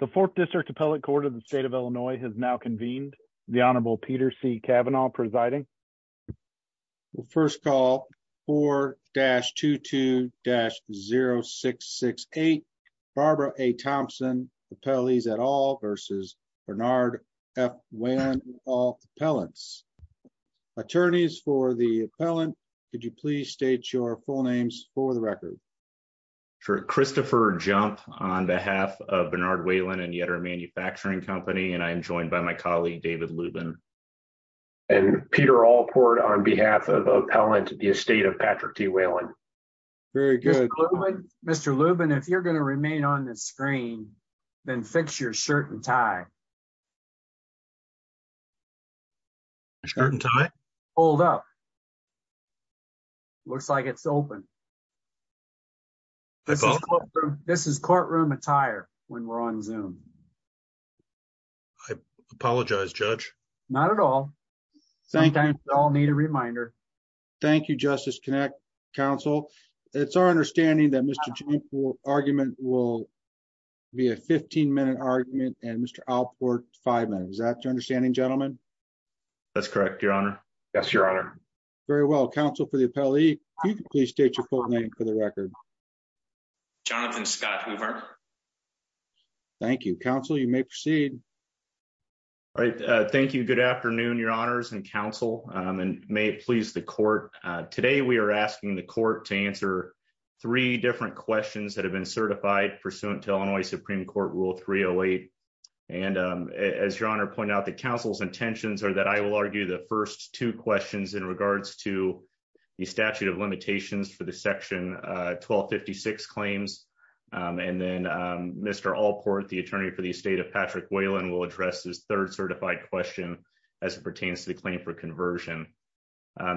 the fourth district appellate court of the state of illinois has now convened the honorable peter c cavanaugh presiding we'll first call 4-22-0668 barbara a thompson appellees at all versus bernard f when all appellants attorneys for the appellant could yet our manufacturing company and i am joined by my colleague david lubin and peter allport on behalf of appellant the estate of patrick t whalen very good mr lubin if you're going to remain on this screen then fix your shirt and tie shirt and tie hold up looks like it's open this is courtroom this is courtroom attire when we're on zoom i apologize judge not at all sometimes we all need a reminder thank you justice connect council it's our understanding that mr jake's argument will be a 15-minute argument and mr allport five minutes that's your understanding gentlemen that's correct your honor yes your very well counsel for the appellee please state your full name for the record jonathan scott hoover thank you counsel you may proceed all right uh thank you good afternoon your honors and counsel um and may it please the court uh today we are asking the court to answer three different questions that have been certified pursuant to illinois supreme court rule 308 and um as your honor pointed out the council's intentions are that i will argue the first two questions in regards to the statute of limitations for the section 1256 claims and then mr allport the attorney for the estate of patrick whalen will address this third certified question as it pertains to the claim for conversion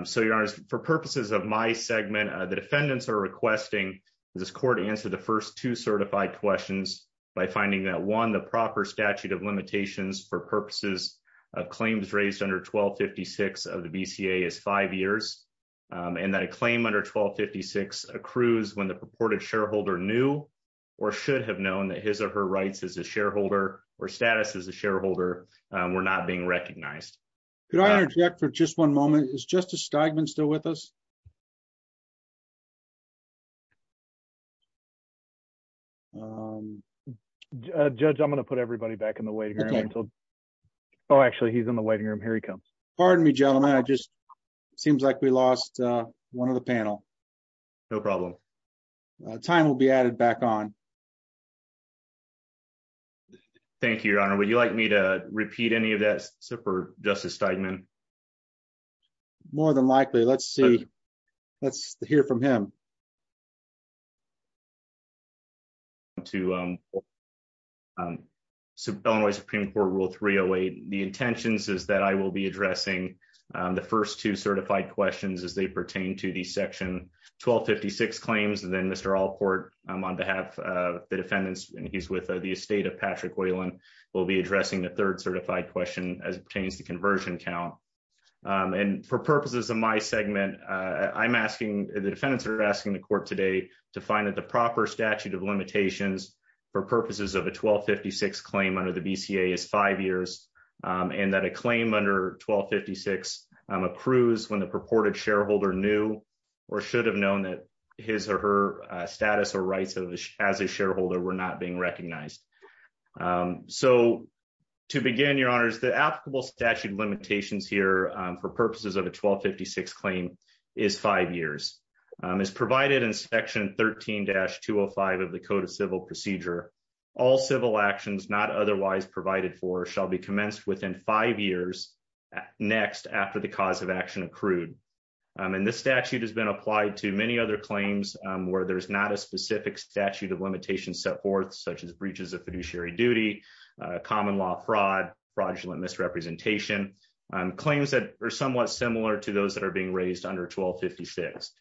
so your honors for purposes of my segment the defendants are requesting this court answer the first two certified questions by finding that one the proper statute of limitations for purposes of claims raised under 1256 of the bca is five years and that a claim under 1256 accrues when the purported shareholder knew or should have known that his or her rights as a shareholder or status as a shareholder were not being recognized could i interject for just one moment is justice steigman still with us um judge i'm going to put everybody back in the waiting room until oh actually he's in the waiting room here he comes pardon me gentlemen i just seems like we lost uh one of the panel no problem time will be added back on thank you your honor would you like me to repeat any of that super justice steigman more than likely let's see let's hear from him to um um sub Illinois supreme court rule 308 the intentions is that i will be addressing the first two certified questions as they pertain to the section 1256 claims and then mr allport on behalf of the defendants and he's with the estate of patrick whalen will be addressing the third certified question as it pertains to conversion count and for purposes of my segment uh i'm asking the defendants are asking the court today to find that the proper statute of limitations for purposes of a 1256 claim under the bca is five years and that a claim under 1256 um accrues when the purported shareholder knew or should have known that his or her status or rights of as a shareholder were not being recognized um so to begin your honors the applicable statute limitations here for purposes of a 1256 claim is five years is provided in section 13-205 of the code of civil procedure all civil actions not otherwise provided for shall be commenced within five years next after the cause of action accrued and this statute has been applied to many other claims where there's not a specific statute of limitations set forth such as breaches of fiduciary duty common law fraud fraudulent misrepresentation claims that are somewhat similar to those that are being raised under 1256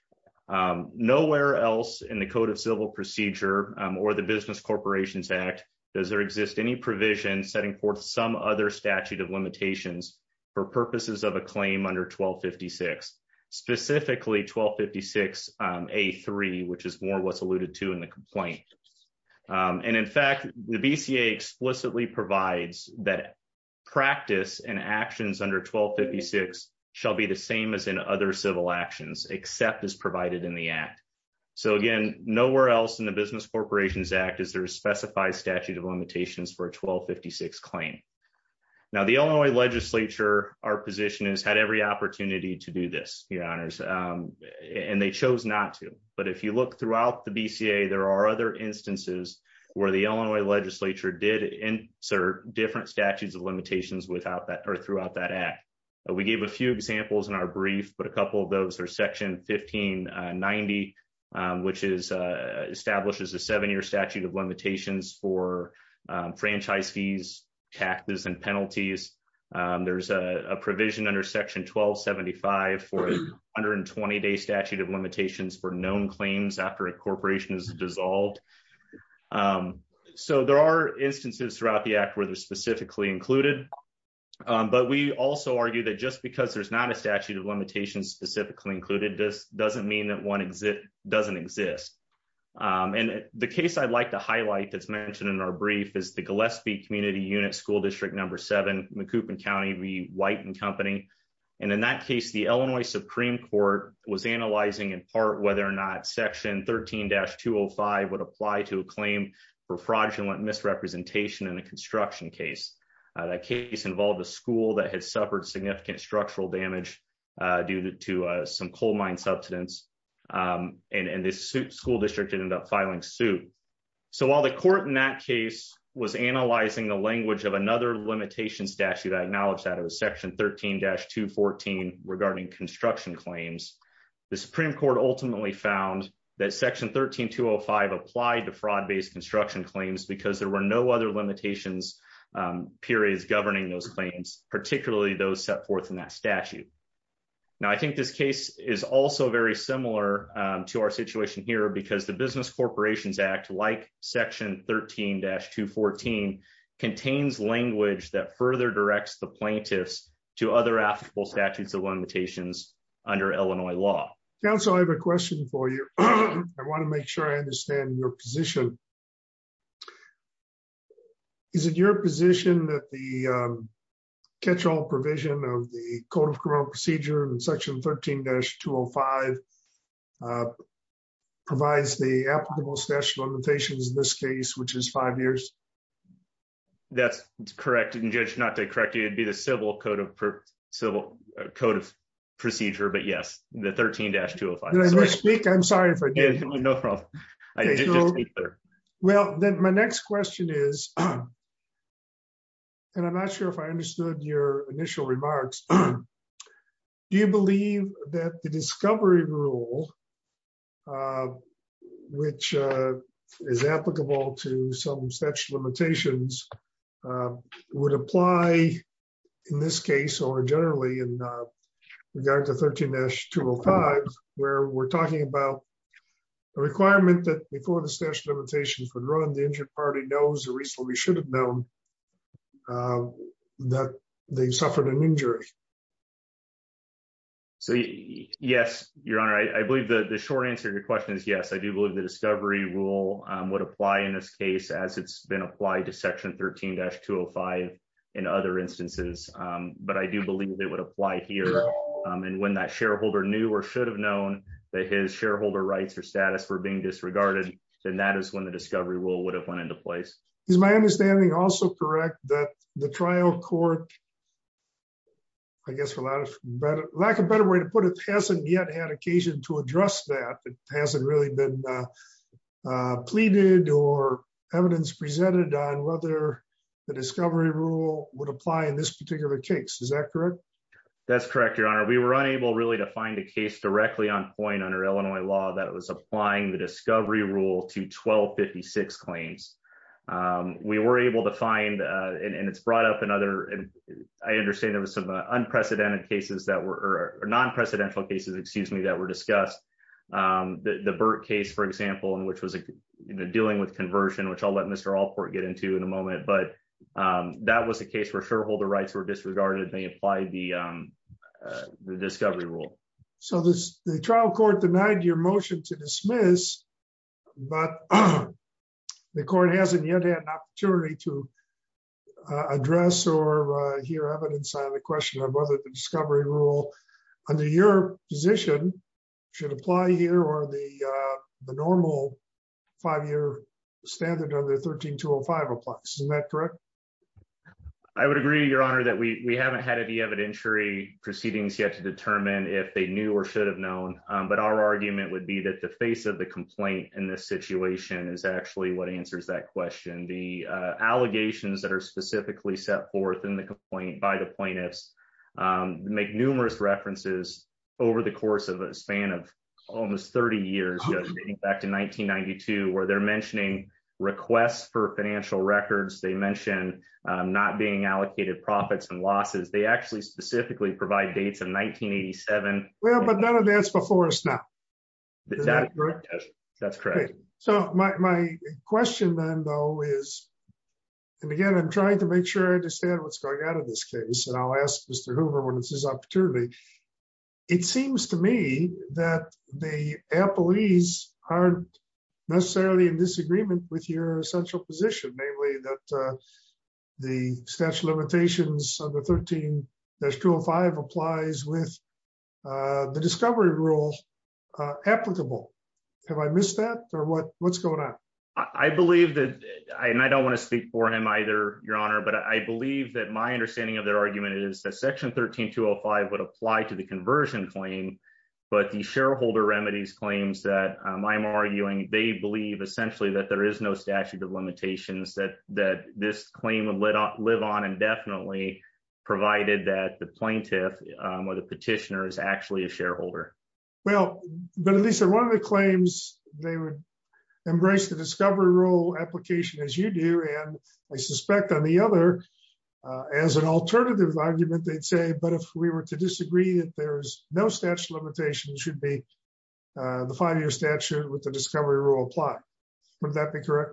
nowhere else in the code of civil procedure or the business corporations act does there exist any provision setting forth some other statute of limitations for purposes of a claim under 1256 specifically 1256 um a3 which is more what's alluded to in the complaint and in fact the bca explicitly provides that practice and actions under 1256 shall be the same as in other civil actions except as provided in the act so again nowhere else in the business corporations act is there a specified statute of limitations for a 1256 claim now the illinois legislature our position has had every opportunity to do this your honors and they chose not to but if you look throughout the bca there are other instances where the illinois legislature did insert different statutes of limitations without that or throughout that act we gave a few examples in our brief but a couple of those are section 1590 which is uh establishes a seven-year statute of limitations for franchise fees taxes and penalties there's a provision under section 1275 for 120-day statute of limitations for known claims after a corporation is dissolved so there are instances throughout the act where they're specifically included but we also argue that just because there's not a statute of limitations specifically included this doesn't mean that one exit doesn't exist and the case i'd like to highlight that's mentioned in our brief is the gillespie community unit school district number seven mccoupin county v white and company and in that case the illinois supreme court was analyzing in part whether or not section 13-205 would apply to a claim for fraudulent misrepresentation in a construction case that case involved a school that had suffered significant structural damage due to some coal mine subsidence and this school district ended up filing suit so while the court in that case was analyzing the language of another limitation statute i acknowledged that it was section 13-214 regarding construction claims the supreme court ultimately found that section 13-205 applied to fraud based construction claims because there were no other limitations periods governing those claims particularly those set forth in that statute now i think this case is also very similar to our situation here because the business corporations act like section 13-214 contains language that further directs the plaintiffs to other applicable statutes of limitations under illinois law council i have a question for you i want to make sure i understand your position is it your position that the catch-all provision of the code of criminal procedure in section 13-205 provides the applicable statutes of limitations in this case which is five years that's correct and judge not to correct you it'd be the civil code of civil code of procedure but yes the 13-205 i speak i'm sorry if i did no problem well then my next question is and i'm not sure if i understood your initial remarks do you believe that the discovery rule which is applicable to some statute of limitations would apply in this case or generally in regard to 13-205 where we're talking about a requirement that before the statute of limitations would run the injured party knows the reason we should have known that they suffered an injury so yes your honor i believe that the short answer to your question is yes i do believe the discovery rule would apply in this case as it's been applied to section 13-205 in other instances but i do believe it would apply here and when that shareholder knew or should have known that his shareholder rights or status were being disregarded then that is when the discovery rule would have went into place is my understanding also correct that the trial court i guess for a lot of better lack of better way to put it hasn't yet had occasion to address that it hasn't really been uh pleaded or evidence presented on whether the discovery rule would apply in this particular case is that correct that's correct your honor we were unable really to find a case directly on point under illinois law that was applying the discovery rule to 12-56 claims um we were able to find uh and it's brought up another and i understand there was some unprecedented cases that were or non-precedential cases excuse me that were discussed um the the burke case for example and which was a dealing with conversion which i'll let mr alport get into in a moment but um that was a case where shareholder rights were disregarded they applied the um the discovery rule so this the trial court denied your motion to dismiss but the court hasn't yet had an opportunity to address or uh hear evidence on the question of whether the discovery rule under your position should apply here or the uh the normal five-year standard under 13-205 applies isn't that correct i would agree your honor that we we haven't had any evidentiary proceedings yet to determine if they knew or should have known but our argument would be that the face of the complaint in this situation is actually what answers that question the uh allegations that are specifically set forth in the complaint by the plaintiffs make numerous references over the course of a span of almost 30 years back to 1992 where they're mentioning requests for financial records they mention um not being allocated profits and losses they actually specifically provide dates in 1987 well but none of that's before us now that's correct so my question then though is and again i'm trying to make sure i understand what's going on in this case and i'll ask mr hoover when it's his opportunity it seems to me that the employees aren't necessarily in disagreement with your essential position namely that the statute of limitations under 13-205 applies with uh the discovery rule applicable have i missed that or what what's going on i believe that i and i don't want to speak for him either your honor but i believe that my understanding of their argument is that section 13-205 would apply to the conversion claim but the shareholder remedies claims that i'm arguing they believe essentially that there is no statute of limitations that that this claim would let on live on indefinitely provided that the plaintiff or the petitioner is actually a shareholder well but at least in one of the claims they would embrace the discovery rule application as you do i suspect on the other as an alternative argument they'd say but if we were to disagree that there's no statute of limitations should be the five-year statute with the discovery rule apply would that be correct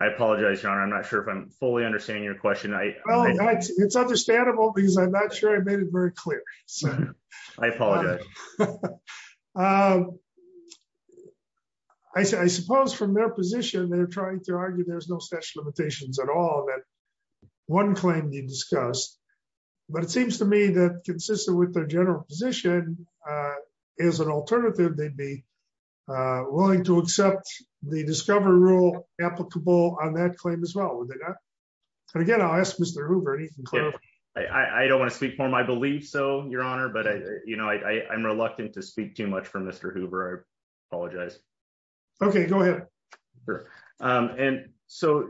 i apologize your honor i'm not sure if i'm fully understanding your question i it's understandable because i'm not sure i made it very clear so i apologize um i suppose from their position they're trying to argue there's no such limitations at all that one claim you discussed but it seems to me that consistent with their general position is an alternative they'd be willing to accept the discovery rule applicable on that claim as well and again i'll ask mr hoover anything i i don't want to speak for him i believe so your honor but i you know i i'm reluctant to speak too much for mr hoover i apologize okay go ahead um and so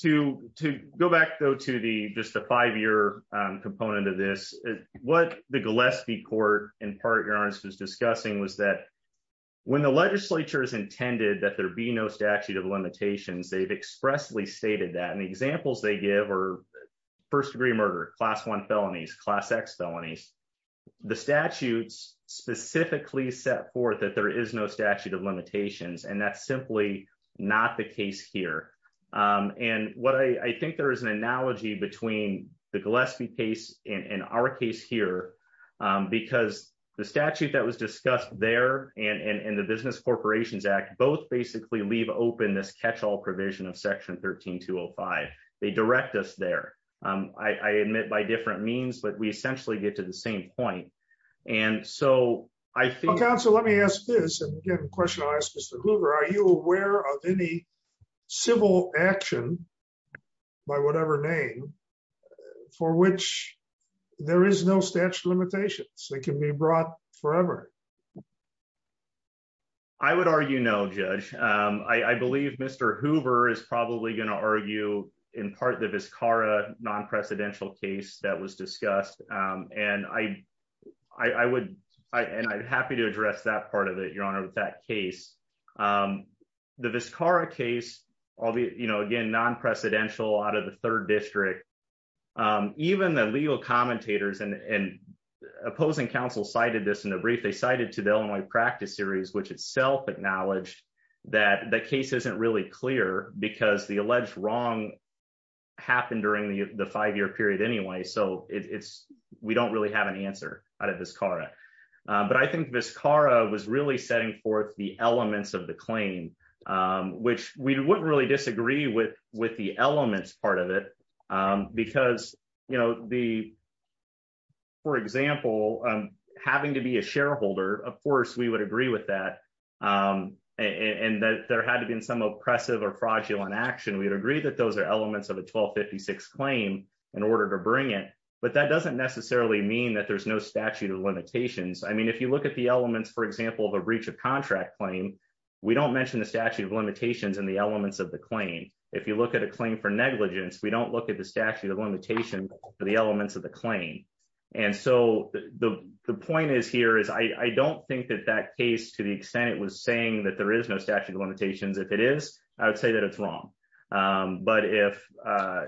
to to go back though to the just the five-year component of this what the gillespie court in part your honor was discussing was that when the legislature is intended that there be no statute of limitations they've expressly stated that and the examples they give are first degree class one felonies class x felonies the statutes specifically set forth that there is no statute of limitations and that's simply not the case here um and what i i think there is an analogy between the gillespie case and our case here because the statute that was discussed there and and the business corporations act both basically leave open this catch-all provision of section 13 205 they direct us there um i i admit by different means but we essentially get to the same point and so i think counsel let me ask this and again question i'll ask mr hoover are you aware of any civil action by whatever name for which there is no statute of limitations so it can be brought forever i would argue no judge um i i believe mr hoover is probably going to argue in part the viscara non-precedential case that was discussed um and i i i would i and i'm happy to address that part of it your honor with that case um the viscara case all the you in the brief they cited to the illinois practice series which itself acknowledged that the case isn't really clear because the alleged wrong happened during the the five-year period anyway so it's we don't really have an answer out of this cara but i think viscara was really setting forth the elements of the claim um which we wouldn't really disagree with with it um because you know the for example um having to be a shareholder of course we would agree with that um and that there had to be some oppressive or fraudulent action we would agree that those are elements of a 1256 claim in order to bring it but that doesn't necessarily mean that there's no statute of limitations i mean if you look at the elements for example of a breach of contract claim we don't mention the statute of limitations and the elements of the claim if you look at a claim for negligence we don't look at the statute of limitations for the elements of the claim and so the the point is here is i i don't think that that case to the extent it was saying that there is no statute of limitations if it is i would say that it's wrong um but if uh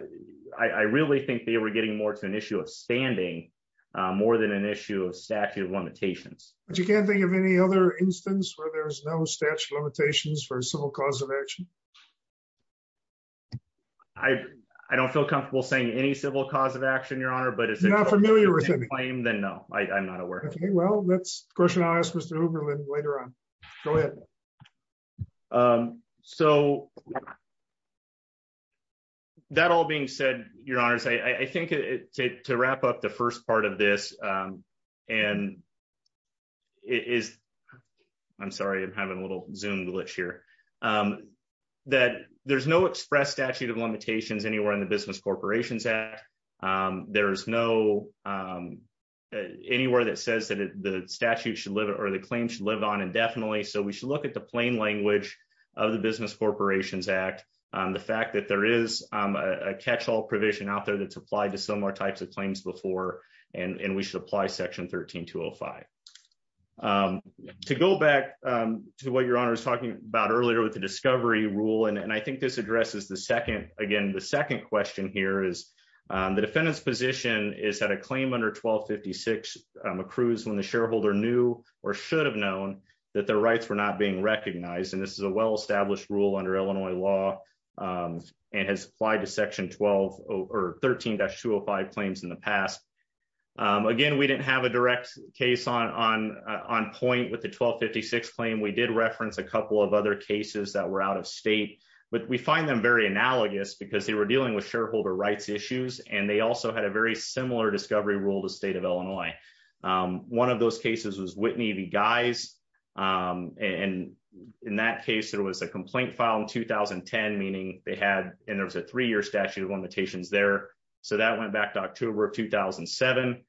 i i really think they were getting more to an issue of standing uh more than an issue of statute of limitations but you can't think of any other instance where there's no statute of limitations for a civil cause of action i i don't feel comfortable saying any civil cause of action your honor but it's not familiar with the claim then no i i'm not aware okay well let's question i'll ask mr uberland later on go ahead um so that all being said your honors i i think it to wrap up the first part of this um and it is i'm sorry i'm having a little zoom glitch here um that there's no express statute of limitations anywhere in the business corporations act um there is no um anywhere that says that the statute should live or the claim should live on indefinitely so we should look at the plain language of the business corporations act um the fact that there is um a catch-all provision out types of claims before and and we should apply section 13 205 um to go back um to what your honor is talking about earlier with the discovery rule and i think this addresses the second again the second question here is um the defendant's position is that a claim under 1256 um accrues when the shareholder knew or should have known that their rights were not being recognized and this is a well-established rule under illinois law um and has applied to section 12 or 13-205 claims in the past again we didn't have a direct case on on on point with the 1256 claim we did reference a couple of other cases that were out of state but we find them very analogous because they were dealing with shareholder rights issues and they also had a very similar discovery rule um one of those cases was whitney the guys um and in that case there was a complaint file in 2010 meaning they had and there was a three-year statute of limitations there so that went back to october of 2007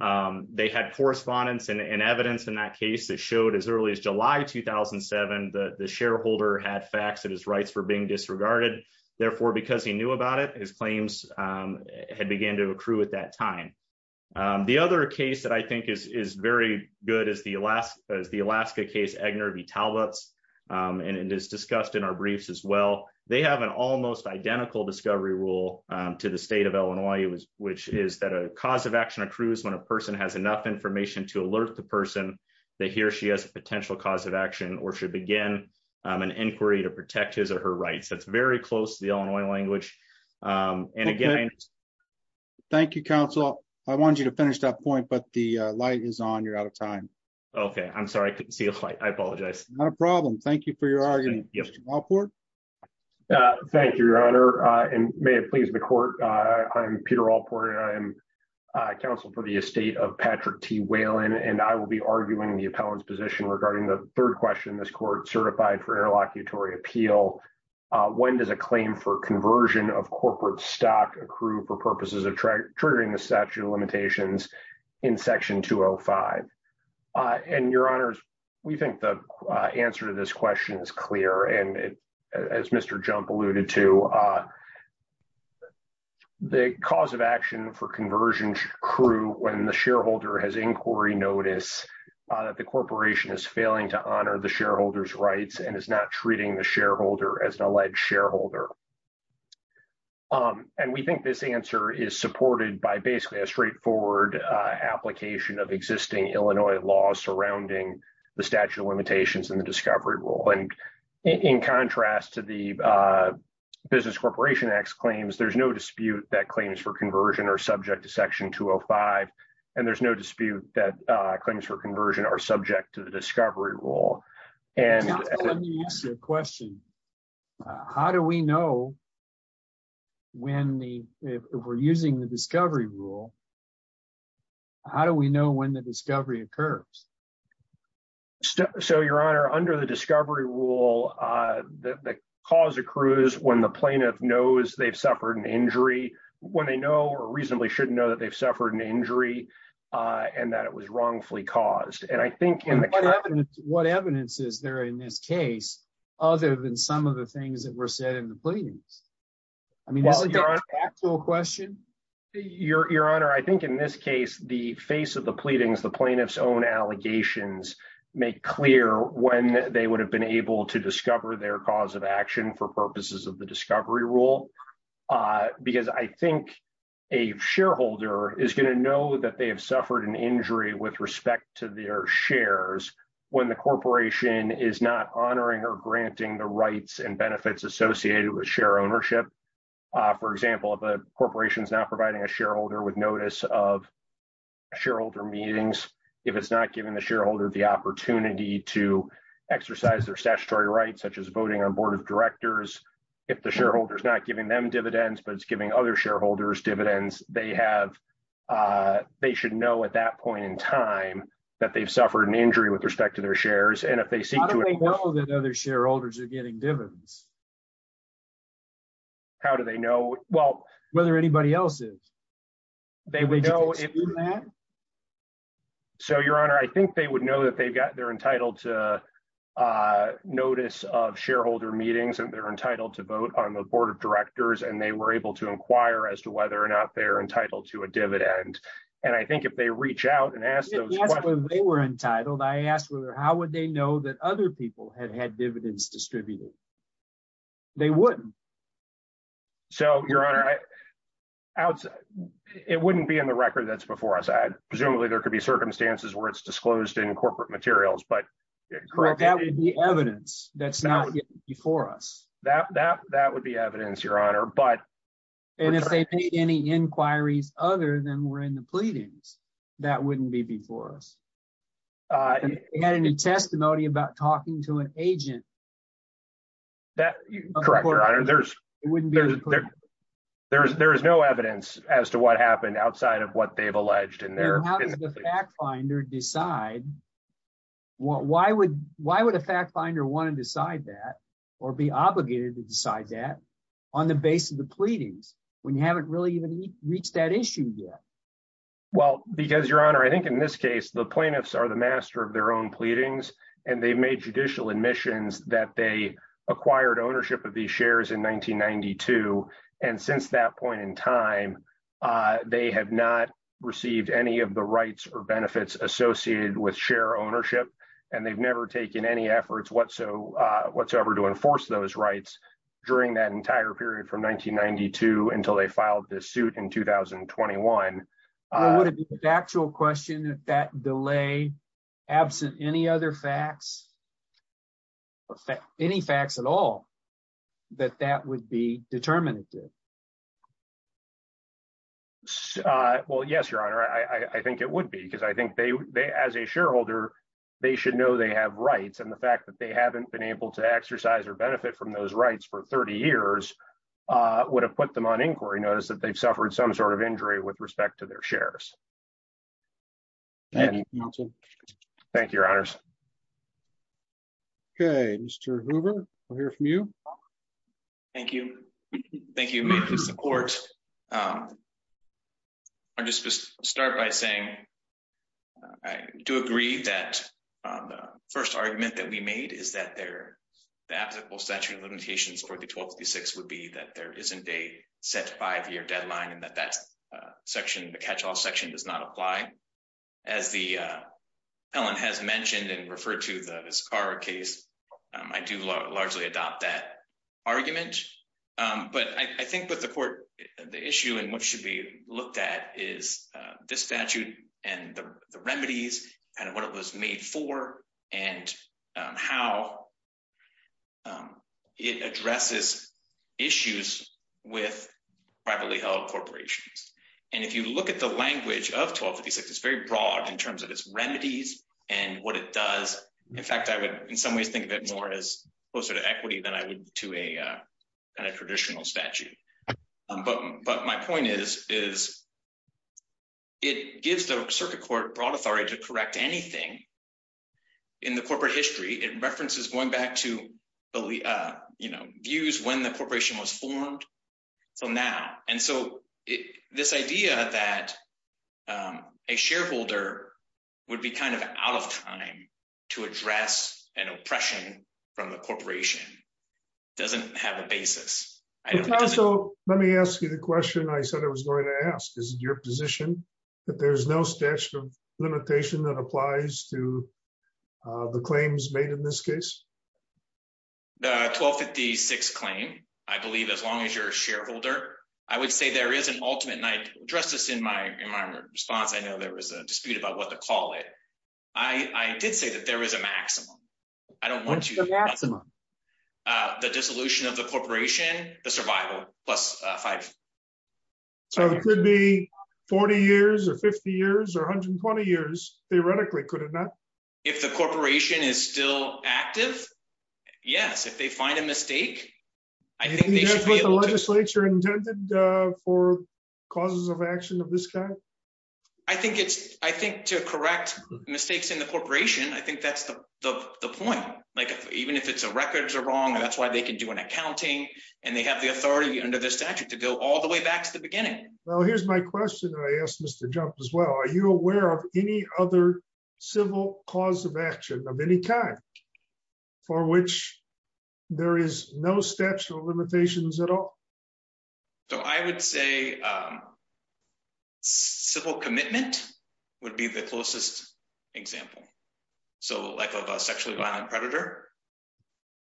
um they had correspondence and evidence in that case that showed as early as july 2007 the the shareholder had facts that his rights were being disregarded therefore because he knew about it his claims um had began to accrue at that time the other case that i think is is very good is the alaska as the alaska case egner v talbot's and it is discussed in our briefs as well they have an almost identical discovery rule to the state of illinois which is that a cause of action accrues when a person has enough information to alert the person that he or she has a potential cause of action or should begin an inquiry to protect his or her rights that's very close to the illinois language um and again thank you counsel i wanted you to finish that point but the light is on you're out of time okay i'm sorry i couldn't see a fight i apologize not a problem thank you for your argument thank you your honor uh and may it please the court uh i'm peter allport and i am uh counsel for the estate of patrick t whalen and i will be arguing the appellant's position regarding the of corporate stock accrued for purposes of triggering the statute of limitations in section 205 uh and your honors we think the answer to this question is clear and as mr jump alluded to uh the cause of action for conversion crew when the shareholder has inquiry notice that the corporation is failing to honor the shareholder's rights and is not treating the um and we think this answer is supported by basically a straightforward uh application of existing illinois law surrounding the statute of limitations and the discovery rule and in contrast to the uh business corporation x claims there's no dispute that claims for conversion are subject to section 205 and there's no dispute that uh claims for conversion are when the if we're using the discovery rule how do we know when the discovery occurs so your honor under the discovery rule uh the cause accrues when the plaintiff knows they've suffered an injury when they know or reasonably shouldn't know that they've suffered an injury uh and that it was wrongfully caused and i think what evidence is there in this case other than some of the things that were said in the pleadings i mean this is an actual question your your honor i think in this case the face of the pleadings the plaintiff's own allegations make clear when they would have been able to discover their cause of action for purposes of the discovery rule uh because i think a shareholder is going to know that they have suffered an injury with respect to their shares when the corporation is not honoring or granting the rights and benefits associated with share ownership uh for example if a corporation is now providing a shareholder with notice of shareholder meetings if it's not giving the shareholder the opportunity to exercise their statutory rights such as voting on board of directors if the shareholder is not giving them dividends but it's giving other shareholders dividends they have uh they should know at that point in time that they've suffered an injury with respect to their shares and if they see that other shareholders are getting dividends how do they know well whether anybody else is they would know so your honor i think they would know that they've got they're entitled to uh notice of shareholder meetings and they're entitled to vote on the board of directors and they were able to inquire as to whether or not they're entitled to a dividend and i think it they reach out and ask those questions they were entitled i asked whether how would they know that other people had had dividends distributed they wouldn't so your honor i outside it wouldn't be in the record that's before us i presumably there could be circumstances where it's disclosed in corporate materials but correct that would be evidence that's not before us that that that would be evidence your honor but and if they made any inquiries other than were in the pleadings that wouldn't be before us uh you had any testimony about talking to an agent that correct your honor there's it wouldn't be there's there's there's no evidence as to what happened outside of what they've alleged in there how does the fact finder decide what why would why would a fact finder want to decide that or be obligated to decide that on the base of the pleadings when you haven't really even reached that issue yet well because your honor i think in this case the plaintiffs are the master of their own pleadings and they've made judicial admissions that they acquired ownership of these shares in 1992 and since that point in time uh they have not received any of the rights or benefits associated with share ownership and they've never taken any efforts whatsoever to enforce those rights during that entire period from 1992 until they filed this suit in 2021 what would it be the actual question if that delay absent any other facts or any facts at all that that would be determinative well yes your honor i i think it would be because i think they they as a shareholder they should know they have rights and the fact that they haven't been able to exercise or benefit from those rights for 30 years uh would have put them on inquiry notice that they've suffered some sort of injury with respect to their shares thank you your honors okay mr hoover we'll hear from you thank you thank you for the support um i just start by saying i do agree that um the first argument that we made is that they're the applicable statute of limitations for the 1236 would be that there isn't a set five-year deadline and that that section the catch-all section does not apply as the uh ellen has mentioned and referred to the sakara case i do largely adopt that argument um but i think with the court the issue and what should be looked at is this statute and the remedies and what it was made for and how it addresses issues with privately held corporations and if you look at the language of 1256 it's very broad in terms of its remedies and what it does in fact i would in some ways think of it more as closer to equity than i would to a kind of traditional statute but but my point is is it gives the circuit court broad authority to correct anything in the corporate history it references going back to the uh you know views when the corporation was formed so now and so this idea that um a shareholder would be kind of out of time to address an oppression from the corporation doesn't have a basis let me ask you the question i said i was going to ask is it your position that there's no statute of limitation that applies to uh the claims made in this case the 1256 claim i believe as long as you're a shareholder i would say there is an ultimate night address this in my in my response i know there was a dispute about what to call it i i did say that there is a maximum i don't want you the maximum uh the dissolution of the corporation the survival plus uh five so it could be 40 years or 50 years or 120 years theoretically could it not if the corporation is still active yes if they find a mistake i think that's what the legislature intended uh for causes of action of this kind i think it's i think to correct mistakes in the corporation i think that's the the point like even if it's a records are wrong that's why they can do an accounting and they have the authority under the statute to go all the way back to the beginning well here's my question i asked mr jump as well are you aware of any other civil cause of action of any kind for which there is no statute of limitations at all so i would say um civil commitment would be the closest example so like a sexually violent predator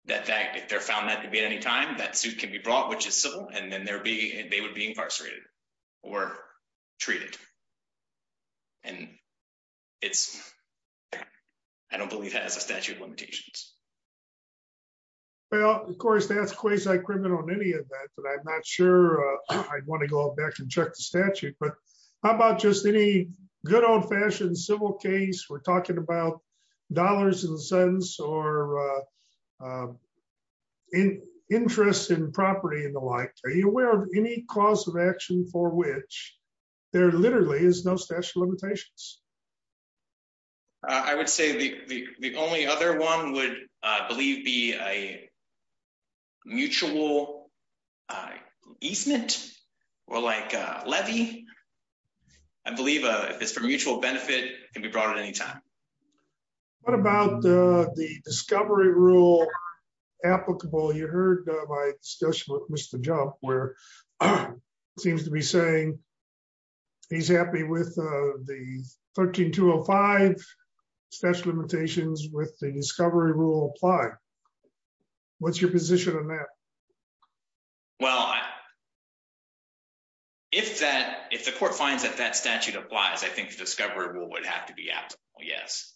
that that if they're found that to be at any time that suit can be brought which is civil and then there be and they would be well of course that's quasi-criminal in any event but i'm not sure i'd want to go back and check the statute but how about just any good old-fashioned civil case we're talking about dollars and cents or uh in interest in property and the like are you aware of any cause of action for which there literally is no special limitations i would say the the only other one would i believe be a mutual uh easement or like a levy i believe uh if it's for mutual benefit can be brought at any time what about the discovery rule applicable you heard my discussion with mr jump where he seems to be saying he's happy with uh the 13205 special limitations with the discovery rule apply what's your position on that well if that if the court finds that that statute applies i think the discovery rule would have to be absolute yes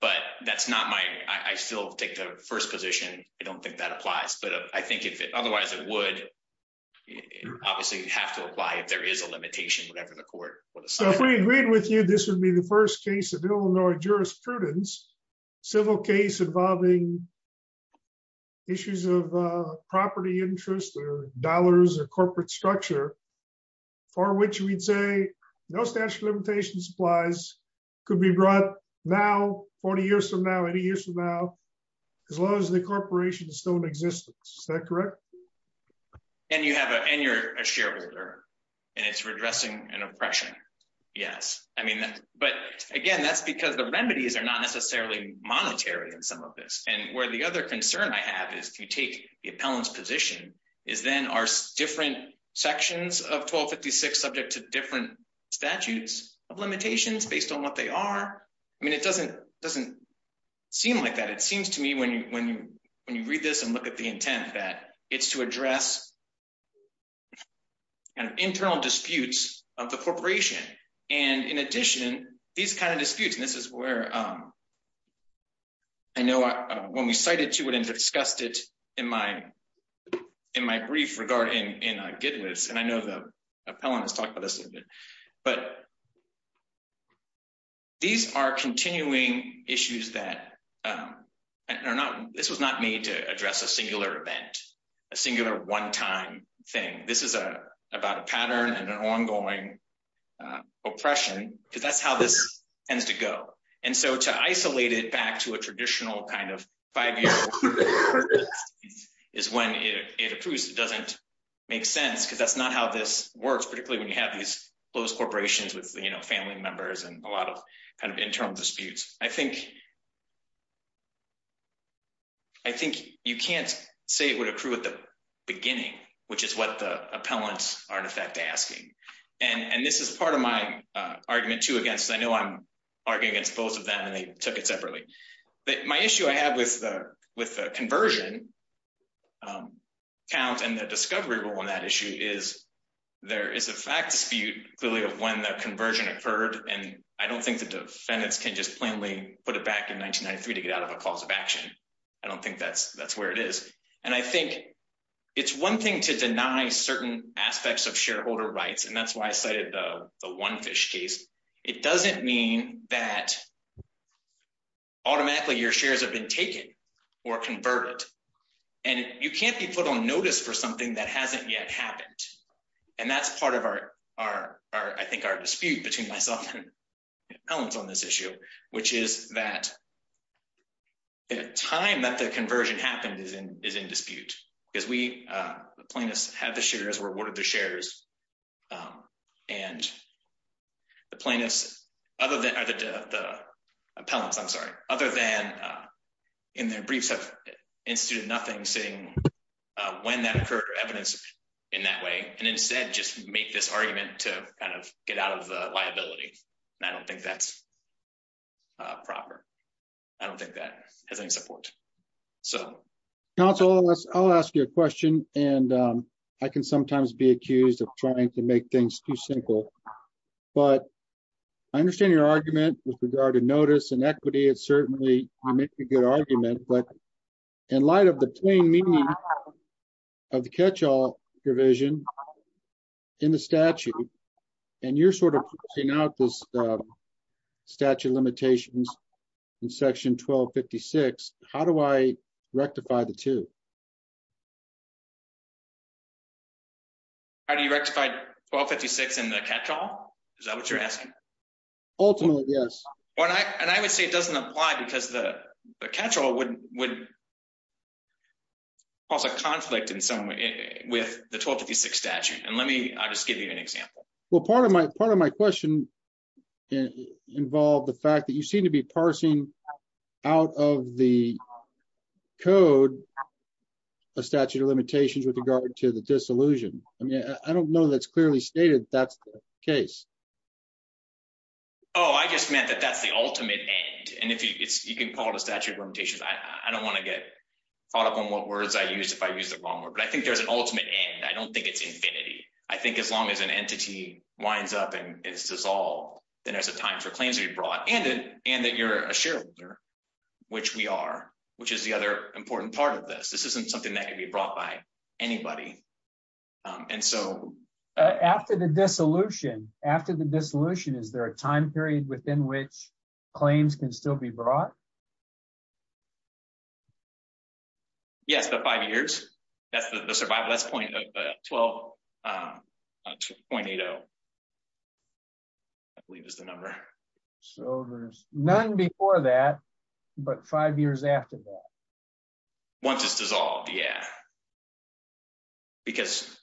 but that's not my i still take the first position i don't think that applies but i think if it otherwise it would obviously have to apply if there is a limitation whatever the jurisprudence civil case involving issues of property interest or dollars or corporate structure for which we'd say no statute of limitations supplies could be brought now 40 years from now 80 years from now as long as the corporation is still in existence is that correct and you have a and you're a shareholder and it's redressing an oppression yes i mean that but again that's because the remedies are not necessarily monetary in some of this and where the other concern i have is if you take the appellant's position is then are different sections of 1256 subject to different statutes of limitations based on what they are i mean it doesn't doesn't seem like that it seems to me when you when you when you read this and look at the intent that it's to address kind of internal disputes of the corporation and in addition these kind of disputes and this is where i know when we cited to it and discussed it in my in my brief regarding in a good list and i know the appellant has talked about this a little bit but these are continuing issues that are not this was not made to address a singular event a singular one-time thing this is a about a pattern and an ongoing oppression because that's how this tends to go and so to isolate it back to a traditional kind of five years is when it approves it doesn't make sense because that's not how this works particularly when you have these close corporations with you know family members and a lot of kind of internal disputes i think i think you can't say it would accrue at the beginning which is what the appellants are in effect asking and and this is part of my argument too against i know i'm arguing against both of them and they took it separately but my issue i have with the with the conversion count and the discovery rule on that issue is there is a fact dispute clearly of when the conversion occurred and i don't think the defendants can just plainly put it back in 1993 to get out of a cause of action i don't think that's that's where it is and i think it's one thing to deny certain aspects of shareholder rights and that's why i cited the one fish case it doesn't mean that automatically your shares have been taken or converted and you can't be put on notice for something that hasn't yet happened and that's part of our our our i think our dispute between myself and appellants on this issue which is that the time that the conversion happened is in is in dispute because we uh the plaintiffs had the shares were awarded the shares um and the plaintiffs other than the appellants i'm sorry other than uh in their briefs have instituted nothing saying uh when that occurred or evidence in that way and instead just make this argument to kind of get out of the liability and i don't think that's uh proper i don't think that has any support so council i'll ask you a question and um i can sometimes be accused of trying to make things too simple but i understand your argument with regard to notice and equity it's certainly you make a good argument but in light of the meaning of the catch-all provision in the statute and you're sort of pushing out this statute limitations in section 1256 how do i rectify the two how do you rectify 1256 in the catch-all is that what you're asking ultimately yes well i and i would say it doesn't apply because the catch-all wouldn't would cause a conflict in some way with the 1256 statute and let me i'll just give you an example well part of my part of my question involved the fact that you seem to be parsing out of the code a statute of limitations with regard to the disillusion i mean i don't know that's the ultimate end and if it's you can call it a statute of limitations i don't want to get caught up on what words i use if i use the wrong word but i think there's an ultimate end i don't think it's infinity i think as long as an entity winds up and it's dissolved then there's a time for claims to be brought and then and that you're a shareholder which we are which is the other important part of this this isn't something that can be brought by anybody and so after the dissolution after the dissolution is there a time period within which claims can still be brought yes the five years that's the survival that's point of the 12 um 2.80 i believe is the number so there's none before that but five years after that once it's dissolved yeah because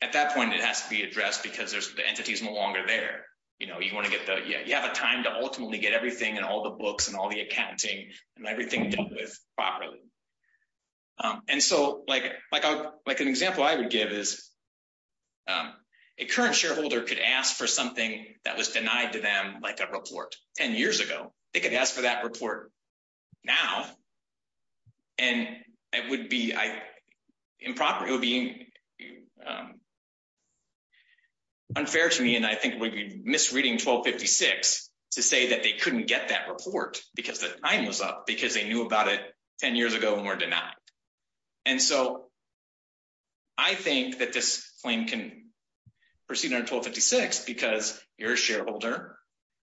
at that point it has to be addressed because there's the entities no longer there you know you want to get the yeah you have a time to ultimately get everything and all the books and all the accounting and everything dealt with properly um and so like like a like an example i would give is um a current shareholder could ask for something that was denied to them like a report 10 years ago they could ask for that report now and it would be improper it would be unfair to me and i think we'd be misreading 1256 to say that they couldn't get that report because the time was up because they knew about it 10 years ago and were denied and so i think that this claim can proceed under 1256 because you're a shareholder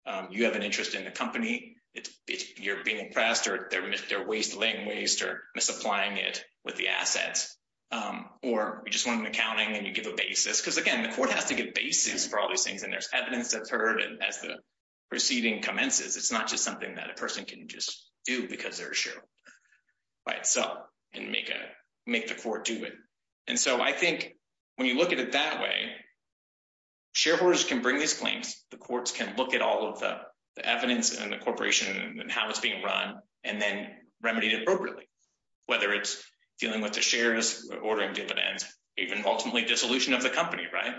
um you have an interest in the company it's you're being impressed or they're they're waste laying waste or misapplying it with the assets um or we just want an accounting and you give a basis because again the court has to give basis for all these things and there's evidence that's heard and as the proceeding commences it's not just something that a person can just do because they're sure right so and a make the court do it and so i think when you look at it that way shareholders can bring these claims the courts can look at all of the evidence and the corporation and how it's being run and then remedy it appropriately whether it's dealing with the shares ordering dividends even ultimately dissolution of the company right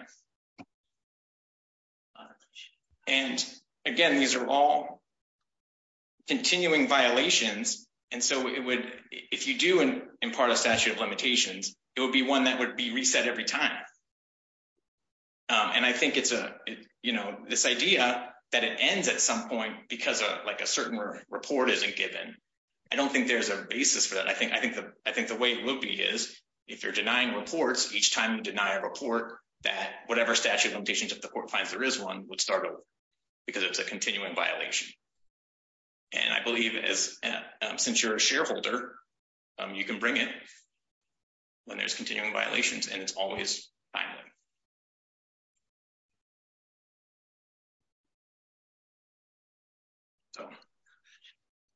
and again these are all continuing violations and so it would if you do and impart a statute of limitations it would be one that would be reset every time and i think it's a you know this idea that it ends at some point because of like a certain report isn't given i don't think there's a basis for that i think i think the i think the way it will be is if you're denying reports each time you deny a report that whatever statute of limitations that the court finds there is one would start because it's a continuing violation and i believe it is since you're a shareholder you can bring it when there's continuing violations and it's always so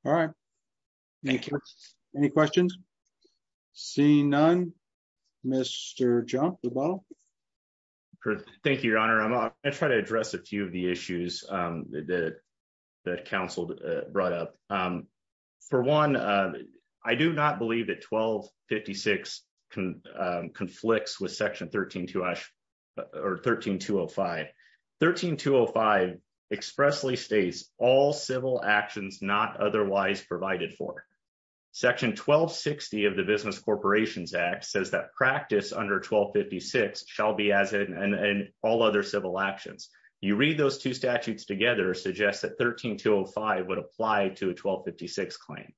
all right thank you any questions seeing none mr jump the ball thank you your honor i'm gonna try to address a few of the issues um that that counseled uh brought um for one uh i do not believe that 1256 can um conflicts with section 13 to us or 13 205 13 205 expressly states all civil actions not otherwise provided for section 1260 of the business corporations act says that practice under 1256 shall be as in and all other civil actions you would apply to a 1256 claim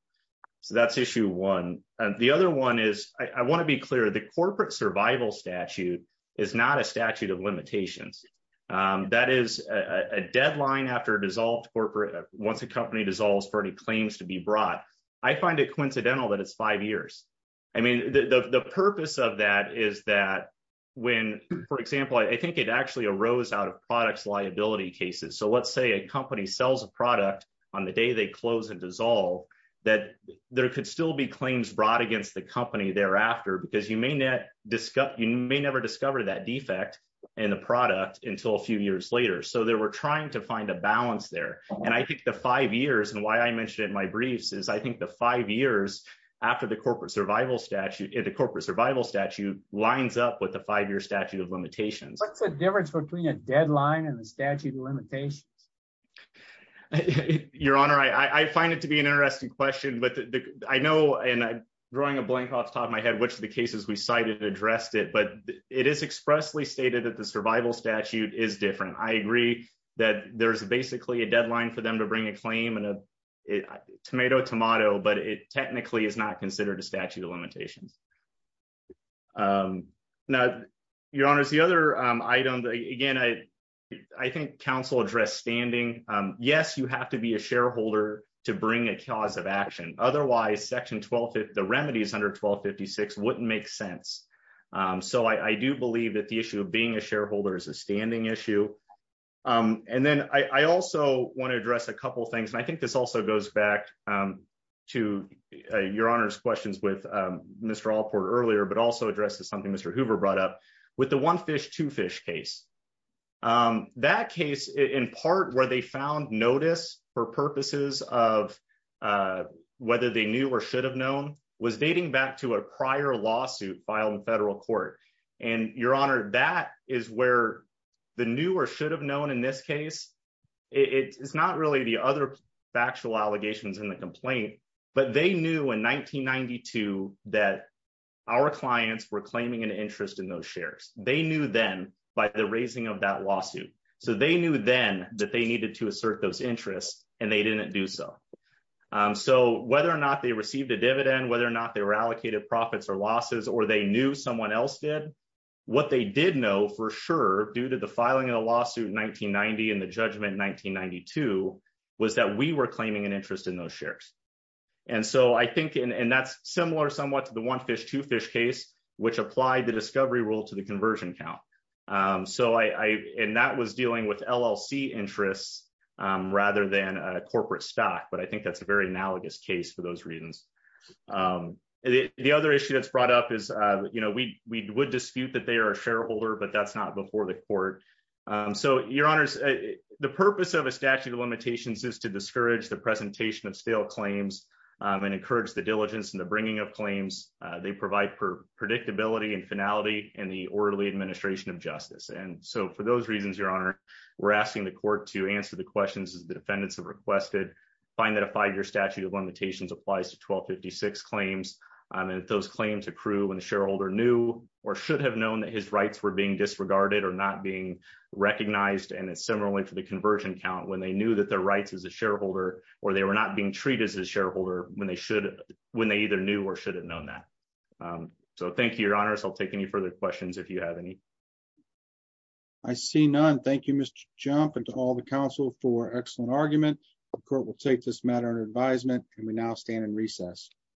so that's issue one and the other one is i want to be clear the corporate survival statute is not a statute of limitations um that is a a deadline after dissolved corporate once a company dissolves for any claims to be brought i find it coincidental that it's five years i mean the the purpose of that is that when for example i think it actually arose out of products liability cases so let's say a company sells a product on the day they close and dissolve that there could still be claims brought against the company thereafter because you may not discuss you may never discover that defect in the product until a few years later so they were trying to find a balance there and i think the five years and why i mentioned in my briefs is i think the five years after the corporate survival statute the corporate survival statute lines up with the five-year statute of limitations what's the difference between a deadline and the statute of limitations your honor i i find it to be an interesting question but i know and i'm drawing a blank off the top of my head which of the cases we cited addressed it but it is expressly stated that the survival statute is different i agree that there's basically a deadline for them to bring a claim and a tomato tomato but it technically is not considered a statute of limitations now your honors the other item again i i think council address standing yes you have to be a shareholder to bring a cause of action otherwise section 12 the remedies under 1256 wouldn't make sense so i i do believe that the issue of being a shareholder is a standing issue and then i i also want to address a couple things and i think this also goes back to your honor's questions with mr allport earlier but also addresses something mr hoover brought up with the one fish two fish case that case in part where they found notice for purposes of whether they knew or should have known was dating back to a prior lawsuit filed in federal court and your honor that is where the new or should have known in this case it's not really the other factual allegations in the complaint but they knew in 1992 that our clients were claiming an interest in those shares they knew then by the raising of that lawsuit so they knew then that they needed to assert those interests and they didn't do so so whether or not they received a dividend whether or not they were allocated profits or losses or they knew someone else did what they did know for sure due to the filing of the lawsuit 1990 and the judgment 1992 was that we were claiming an interest in those shares and so i think and that's similar somewhat to the one fish two fish case which applied the discovery rule to the conversion count um so i i and that was dealing with llc interests um rather than a corporate stock but i think that's a very analogous case for those reasons um the other issue that's brought up is uh you know we we would dispute that they are a shareholder but that's not before the court um so your honors the purpose of a statute of limitations is to discourage the presentation of stale claims and encourage the diligence and the bringing of claims they provide for predictability and finality and the orderly administration of justice and so for those reasons your honor we're asking the court to answer the questions as the defendants have requested find that a five-year statute of limitations applies to 1256 claims and that those claims accrue when the shareholder knew or should have known that his rights were being disregarded or not being recognized and similarly for the conversion count when they knew that their rights as a shareholder or they were not being treated as a shareholder when they should when they either knew or should have known that um so thank you your honors i'll take any further questions if you have any i see none thank you mr jump and to all the council for excellent argument the court will take this matter in advisement and we now stand in recess